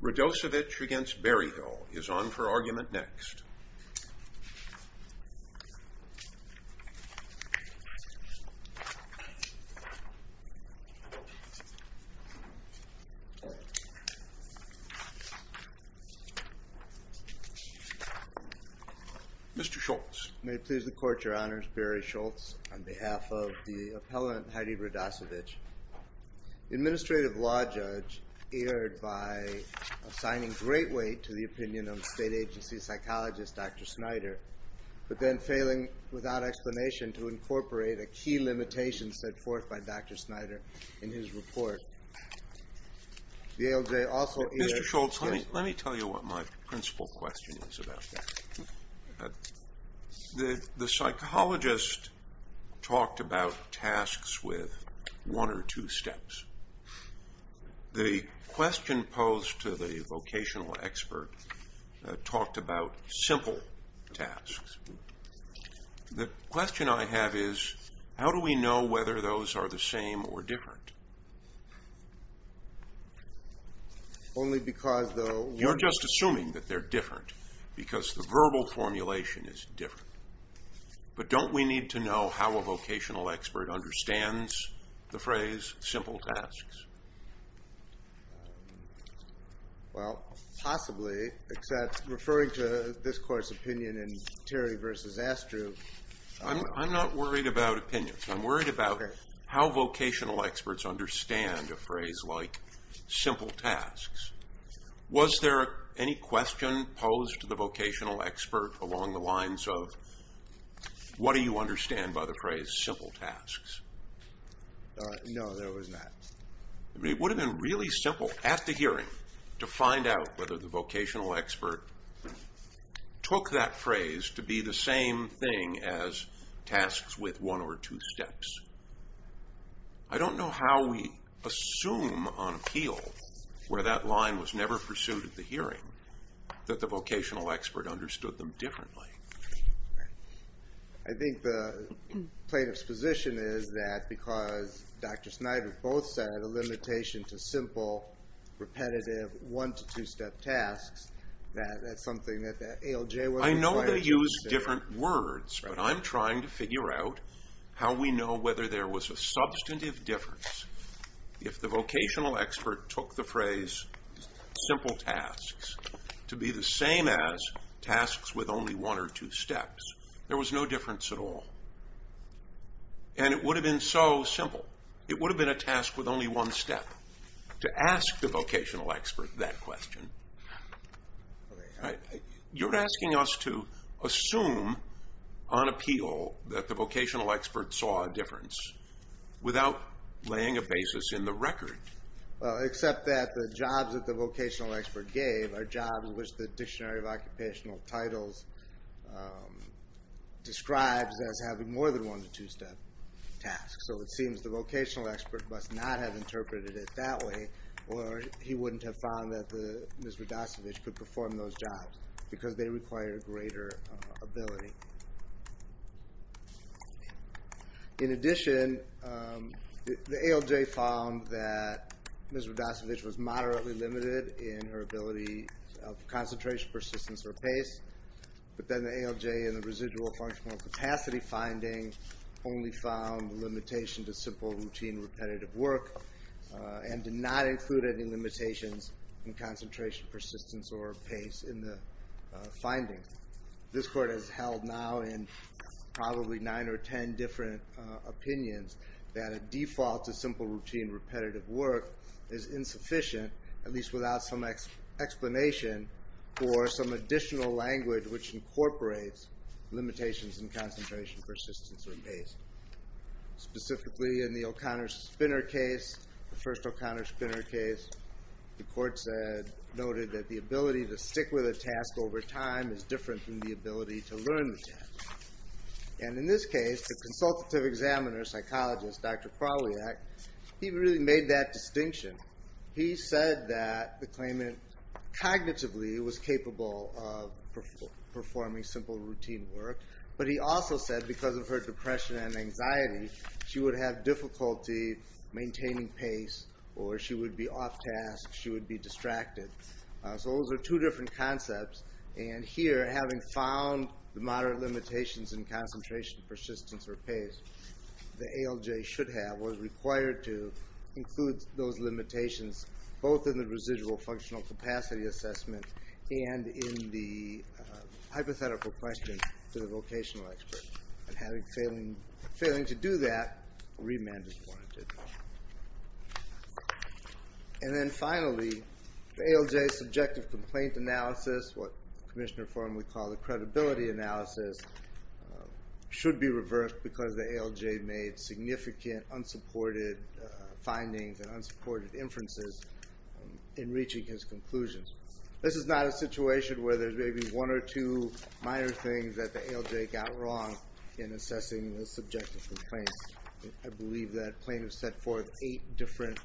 Radosevich v. Berryhill is on for argument next. Mr. Schultz. May it please the Court, Your Honors, Barry Schultz on behalf of the appellant Heidi Radosevich. Administrative Law Judge aired by assigning great weight to the opinion of state agency psychologist Dr. Snyder, but then failing without explanation to incorporate a key limitation set forth by Dr. Snyder in his report. The ALJ also aired... Mr. Schultz, let me tell you what my principal question is about. The psychologist talked about tasks with one or two steps. The question posed to the vocational expert talked about simple tasks. The question I have is how do we know whether those are the same or different? You're just assuming that they're different because the verbal formulation is different. But don't we need to know how a vocational expert understands the phrase simple tasks? Possibly, except referring to this Court's opinion in Terry v. Astrew. I'm not worried about opinions. I'm worried about how vocational experts understand a phrase like simple tasks. Was there any question posed to the vocational expert along the lines of what do you understand by the phrase simple tasks? No, there was not. It would have been really simple at the hearing to find out whether the vocational expert took that phrase to be the same thing as tasks with one or two steps. I don't know how we assume on appeal where that line was never pursued at the hearing that the vocational expert understood them differently. I think the plaintiff's position is that because Dr. Snyder both said a limitation to simple repetitive one to two step tasks, that that's something that the ALJ was required to say. I know they used different words, but I'm trying to figure out how we know whether there was a substantive difference if the vocational expert took the phrase simple tasks to be the same as tasks with only one or two steps. There was no difference at all. And it would have been so simple. It would have been a task with only one step. To ask the vocational expert that question, you're asking us to assume on appeal that the vocational expert saw a difference without laying a basis in the record. Except that the jobs that the vocational expert gave are jobs which the Dictionary of Occupational Titles describes as having more than one to two step tasks. So it seems the vocational expert must not have interpreted it that way or he wouldn't have found that Ms. Radasevich could perform those jobs because they require greater ability. In addition, the ALJ found that Ms. Radasevich was moderately limited in her ability of concentration, persistence, or pace. But then the ALJ in the residual functional capacity finding only found limitation to simple, routine, repetitive work and did not include any limitations in concentration, persistence, or pace in the finding. This Court has held now in probably nine or ten different opinions that a default to simple, routine, repetitive work is insufficient, at least without some explanation for some additional language which incorporates limitations in concentration, persistence, or pace. Specifically in the O'Connor-Spinner case, the first O'Connor-Spinner case, the Court noted that the ability to stick with a task over time is different from the ability to learn the task. And in this case, the consultative examiner, psychologist, Dr. Krawliak, he really made that distinction. He said that the claimant cognitively was capable of performing simple, routine work. But he also said because of her depression and anxiety, she would have difficulty maintaining pace or she would be off task, she would be distracted. So those are two different concepts. And here, having found the moderate limitations in concentration, persistence, or pace, the ALJ should have, was required to include those limitations both in the residual functional capacity assessment and in the hypothetical question to the vocational expert. And failing to do that, remand is warranted. And then finally, the ALJ's subjective complaint analysis, what the Commissioner Forum would call the credibility analysis, should be reversed because the ALJ made significant unsupported findings and unsupported inferences in reaching his conclusions. This is not a situation where there's maybe one or two minor things that the ALJ got wrong in assessing the subjective complaints. I believe that plaintiffs set forth eight different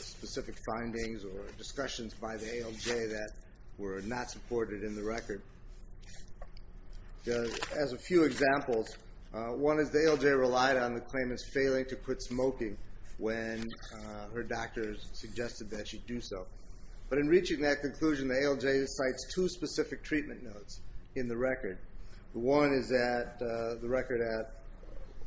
specific findings or discussions by the ALJ that were not supported in the record. As a few examples, one is the ALJ relied on the claimant's failing to quit smoking when her doctor suggested that she do so. But in reaching that conclusion, the ALJ cites two specific treatment notes in the record. The one is the record at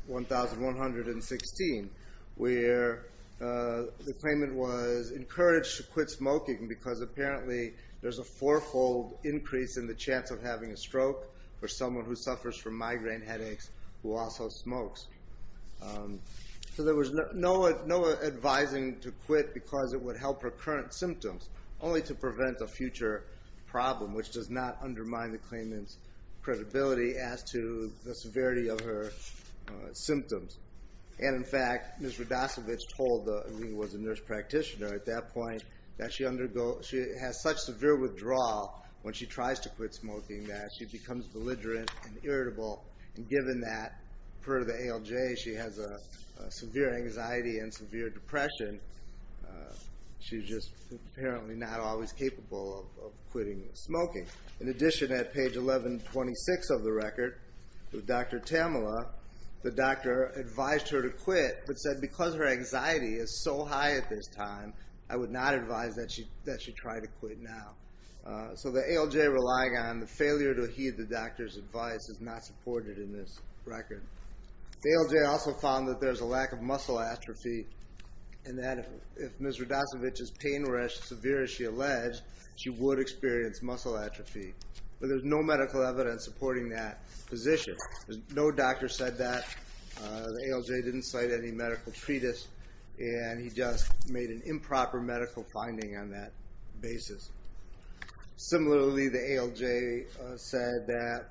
1,116, where the claimant was encouraged to quit smoking because apparently there's a four-fold increase in the chance of having a stroke for someone who suffers from migraine headaches who also smokes. So there was no advising to quit because it would help her current symptoms, only to prevent a future problem, which does not undermine the claimant's credibility as to the severity of her symptoms. And in fact, Ms. Rodasiewicz was a nurse practitioner at that point, that she has such severe withdrawal when she tries to quit smoking that she becomes belligerent and irritable. And given that, per the ALJ, she has a severe anxiety and severe depression, she's just apparently not always capable of quitting smoking. In addition, at page 1,126 of the record, with Dr. Tamela, the doctor advised her to quit, but said, because her anxiety is so high at this time, I would not advise that she try to quit now. So the ALJ relying on the failure to heed the doctor's advice is not supported in this record. The ALJ also found that there's a lack of muscle atrophy, and that if Ms. Rodasiewicz's pain were as severe as she alleged, she would experience muscle atrophy. But there's no medical evidence supporting that position. No doctor said that. The ALJ didn't cite any medical treatise, and he just made an improper medical finding on that basis. Similarly, the ALJ said that,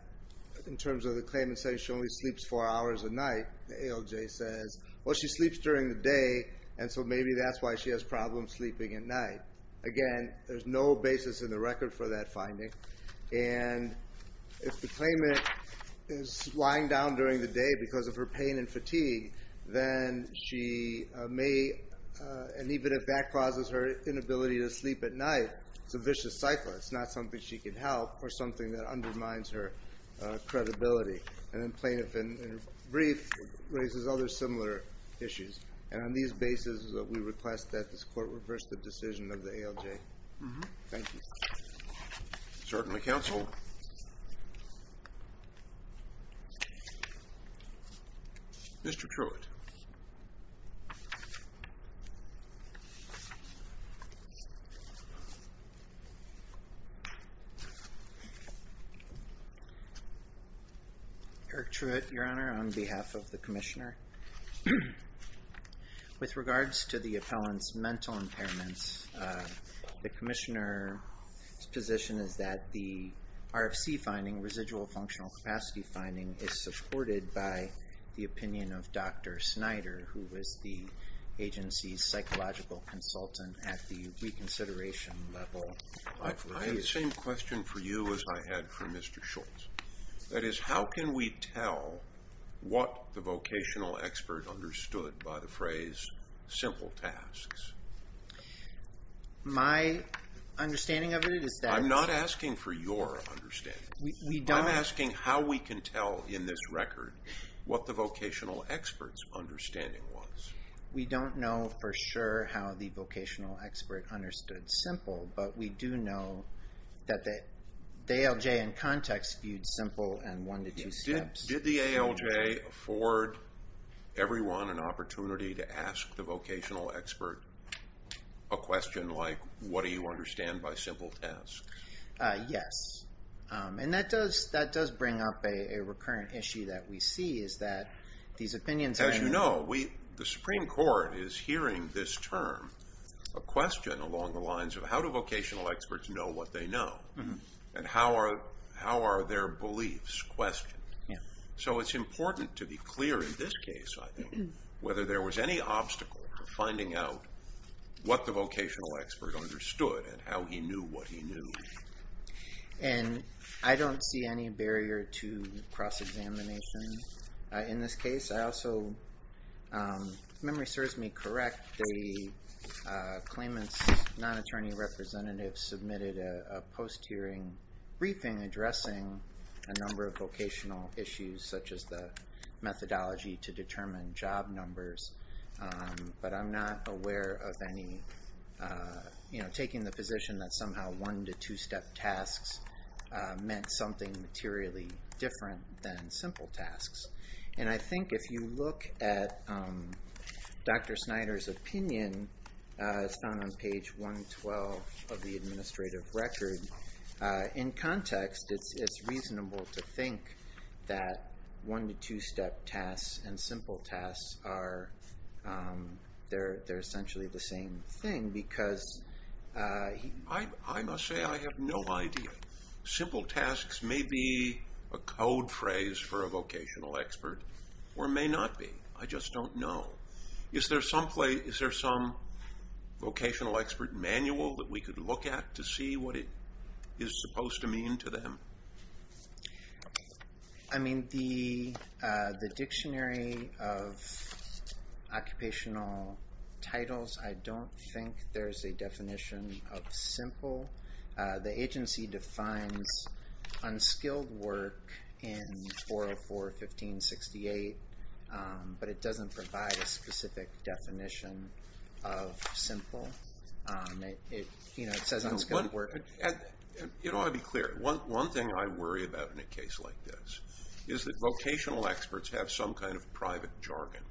in terms of the claimant saying she only sleeps four hours a night, the ALJ says, well, she sleeps during the day, and so maybe that's why she has problems sleeping at night. Again, there's no basis in the record for that finding. And if the claimant is lying down during the day because of her pain and fatigue, then she may, and even if that causes her inability to sleep at night, it's a vicious cycle. It's not something she can help or something that undermines her credibility. And then plaintiff in a brief raises other similar issues. And on these bases, we request that this court reverse the decision of the ALJ. Thank you. Certainly, counsel. Mr. Truitt. Eric Truitt, Your Honor, on behalf of the commissioner. With regards to the appellant's mental impairments, the commissioner's position is that the RFC finding, residual functional capacity finding, is supported by the opinion of Dr. Snyder, who is the agency's psychological consultant at the reconsideration level. I have the same question for you as I had for Mr. Schultz. That is, how can we tell what the vocational expert understood by the phrase simple tasks? My understanding of it is that... I'm not asking for your understanding. I'm asking how we can tell in this record what the vocational expert's understanding was. We don't know for sure how the vocational expert understood simple, but we do know that the ALJ, in context, viewed simple in one to two steps. Did the ALJ afford everyone an opportunity to ask the vocational expert a question like, what do you understand by simple tasks? Yes. And that does bring up a recurrent issue that we see, is that these opinions... As you know, the Supreme Court is hearing this term, a question along the lines of, how do vocational experts know what they know? And how are their beliefs questioned? So it's important to be clear in this case, I think, whether there was any obstacle to finding out what the vocational expert understood and how he knew what he knew. And I don't see any barrier to cross-examination in this case. I also... If memory serves me correct, the claimant's non-attorney representative submitted a post-hearing briefing addressing a number of vocational issues, such as the methodology to determine job numbers. But I'm not aware of any... Taking the position that somehow one- to two-step tasks meant something materially different than simple tasks. And I think if you look at Dr. Snyder's opinion, it's found on page 112 of the administrative record. In context, it's reasonable to think that one- to two-step tasks and simple tasks are... They're essentially the same thing, because... I must say, I have no idea. Simple tasks may be a code phrase for a vocational expert or may not be. I just don't know. Is there some vocational expert manual that we could look at to see what it is supposed to mean to them? I mean, the dictionary of occupational titles, I don't think there's a definition of simple. The agency defines unskilled work in 404.15.68, but it doesn't provide a specific definition of simple. You know, it says unskilled work... You know, I'll be clear. One thing I worry about in a case like this is that vocational experts have some kind of private jargon,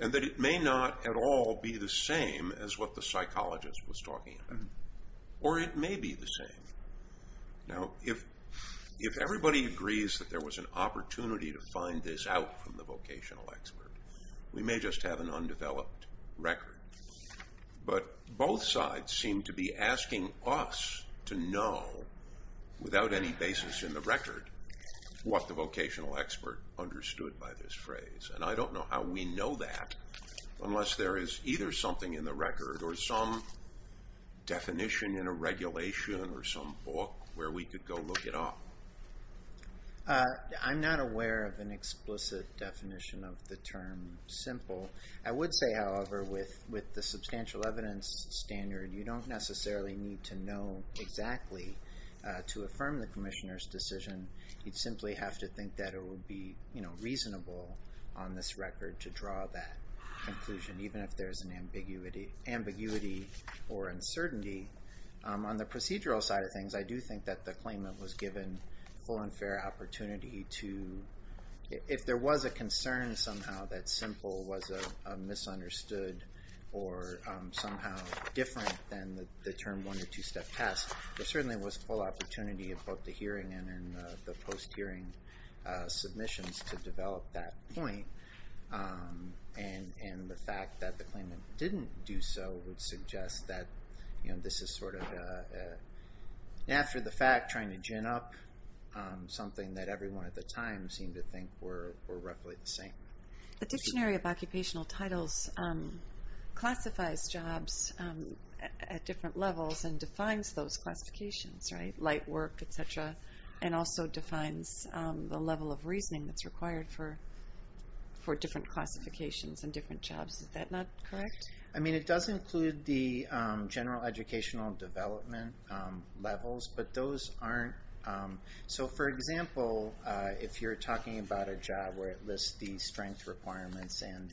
and that it may not at all be the same as what the psychologist was talking about. Or it may be the same. Now, if everybody agrees that there was an opportunity to find this out from the vocational expert, we may just have an undeveloped record. But both sides seem to be asking us to know, without any basis in the record, what the vocational expert understood by this phrase. And I don't know how we know that unless there is either something in the record or some definition in a regulation or some book where we could go look it up. I'm not aware of an explicit definition of the term simple. I would say, however, with the substantial evidence standard, you don't necessarily need to know exactly to affirm the commissioner's decision. You'd simply have to think that it would be reasonable on this record to draw that conclusion, even if there's an ambiguity or uncertainty. On the procedural side of things, I do think that the claimant was given full and fair opportunity to... If there was a concern somehow that simple was a misunderstood or somehow different than the term one- or two-step test, there certainly was full opportunity in both the hearing and in the post-hearing submissions to develop that point. And the fact that the claimant didn't do so would suggest that this is sort of, after the fact, trying to gin up something that everyone at the time seemed to think were roughly the same. The Dictionary of Occupational Titles classifies jobs at different levels and defines those classifications, right? Light work, et cetera, and also defines the level of reasoning that's required for different classifications and different jobs. Is that not correct? I mean, it does include the general educational development levels, but those aren't... So, for example, if you're talking about a job where it lists the strength requirements and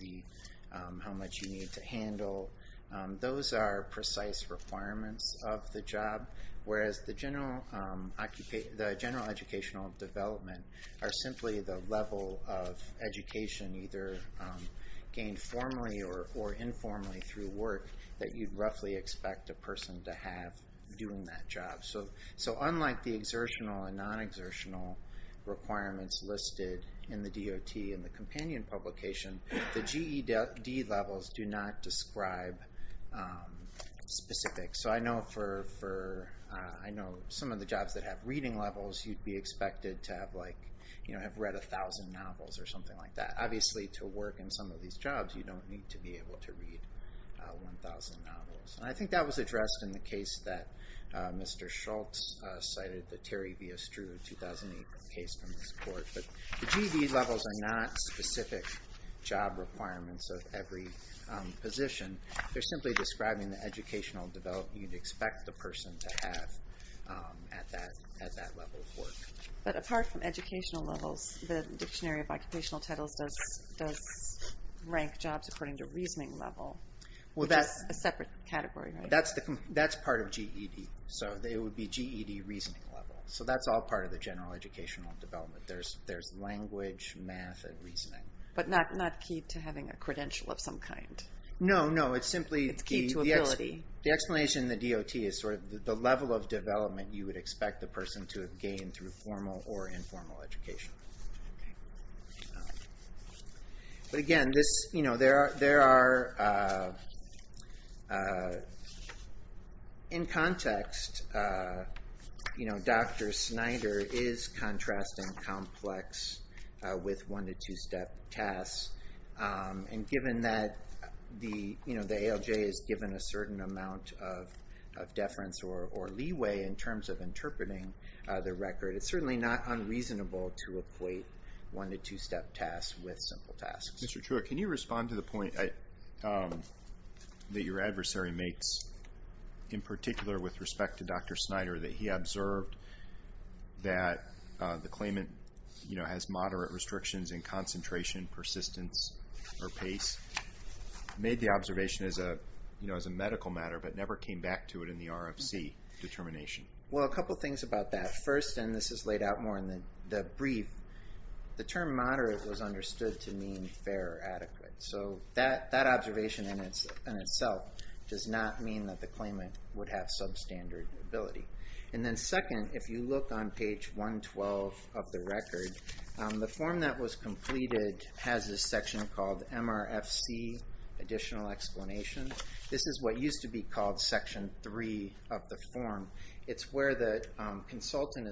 how much you need to handle, those are precise requirements of the job, whereas the general educational development are simply the level of education either gained formally or informally through work that you'd roughly expect a person to have doing that job. So unlike the exertional and non-exertional requirements listed in the DOT and the companion publication, the GED levels do not describe specifics. So I know for... I know some of the jobs that have reading levels, you'd be expected to have, like, you know, have read 1,000 novels or something like that. Obviously, to work in some of these jobs, you don't need to be able to read 1,000 novels. And I think that was addressed in the case that Mr. Schultz cited, the Terry v. Estrue 2008 case from this court. But the GED levels are not specific job requirements of every position. They're simply describing the educational development you'd expect the person to have at that level of work. But apart from educational levels, the Dictionary of Occupational Titles does rank jobs according to reasoning level. That's a separate category, right? That's part of GED. So it would be GED reasoning level. So that's all part of the general educational development. There's language, math, and reasoning. But not key to having a credential of some kind? No, no, it's simply... It's key to ability. The explanation in the DOT is sort of the level of development you would expect the person to have gained through formal or informal education. Okay. But again, this, you know, there are... In context, you know, Dr. Snyder is contrasting complex with one- to two-step tasks. And given that the ALJ is given a certain amount of deference or leeway in terms of interpreting the record, it's certainly not unreasonable to equate one- to two-step tasks with simple tasks. Mr. Truitt, can you respond to the point that your adversary makes, in particular with respect to Dr. Snyder, that he observed that the claimant, you know, against moderate restrictions in concentration, persistence, or pace, made the observation as a medical matter, but never came back to it in the RFC determination? Well, a couple things about that. First, and this is laid out more in the brief, the term moderate was understood to mean fair or adequate. So that observation in itself does not mean that the claimant would have substandard ability. And then second, if you look on page 112 of the record, the form that was completed has a section called MRFC Additional Explanation. This is what used to be called Section 3 of the form. It's where the consultant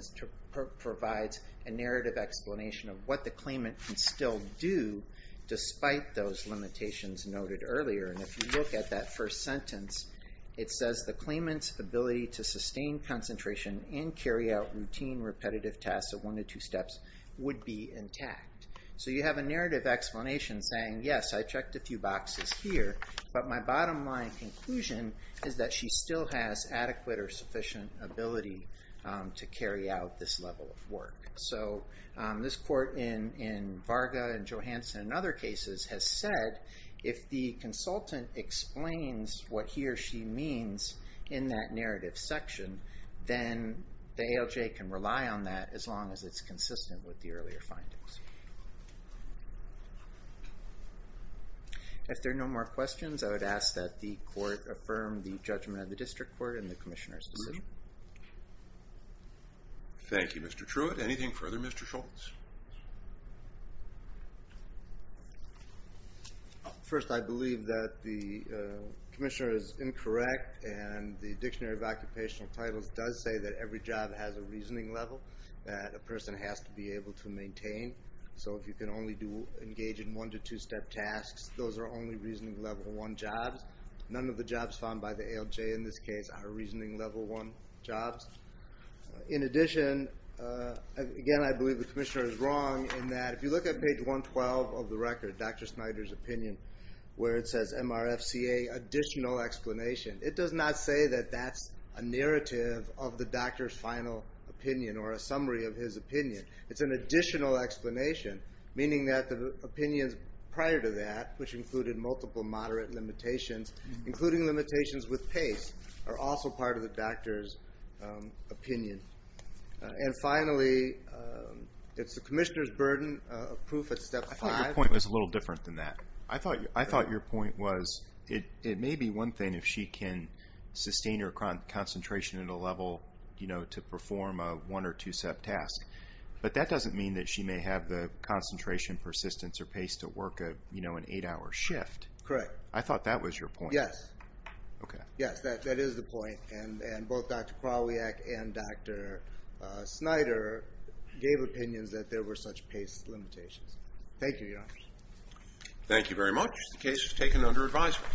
provides a narrative explanation of what the claimant can still do despite those limitations noted earlier. And if you look at that first sentence, it says the claimant's ability to sustain concentration and carry out routine repetitive tasks of one to two steps would be intact. So you have a narrative explanation saying, yes, I checked a few boxes here, but my bottom line conclusion is that she still has adequate or sufficient ability to carry out this level of work. So this court in Varga and Johansen and other cases has said if the consultant explains what he or she means in that narrative section, then the ALJ can rely on that as long as it's consistent with the earlier findings. If there are no more questions, I would ask that the court affirm the judgment of the district court and the commissioner's decision. Thank you, Mr. Truitt. Anything further, Mr. Schultz? First, I believe that the commissioner is incorrect and the Dictionary of Occupational Titles does say that every job has a reasoning level that a person has to be able to maintain. So if you can only engage in one to two-step tasks, those are only reasoning level one jobs. None of the jobs found by the ALJ in this case are reasoning level one jobs. In addition, again, I believe the commissioner is wrong in that if you look at page 112 of the record, Dr. Snyder's opinion, where it says MRFCA additional explanation, it does not say that that's a narrative of the doctor's final opinion or a summary of his opinion. It's an additional explanation, meaning that the opinions prior to that, which included multiple moderate limitations, including limitations with pace, are also part of the doctor's opinion. And finally, it's the commissioner's burden of proof at step five. I thought your point was a little different than that. I thought your point was it may be one thing if she can sustain her concentration at a level to perform a one- or two-step task, but that doesn't mean that she may have the concentration, persistence, or pace to work an eight-hour shift. Correct. I thought that was your point. Yes. Okay. Yes, that is the point, and both Dr. Krawiak and Dr. Snyder gave opinions that there were such pace limitations. Thank you, Your Honor. Thank you very much. The case is taken under advisement.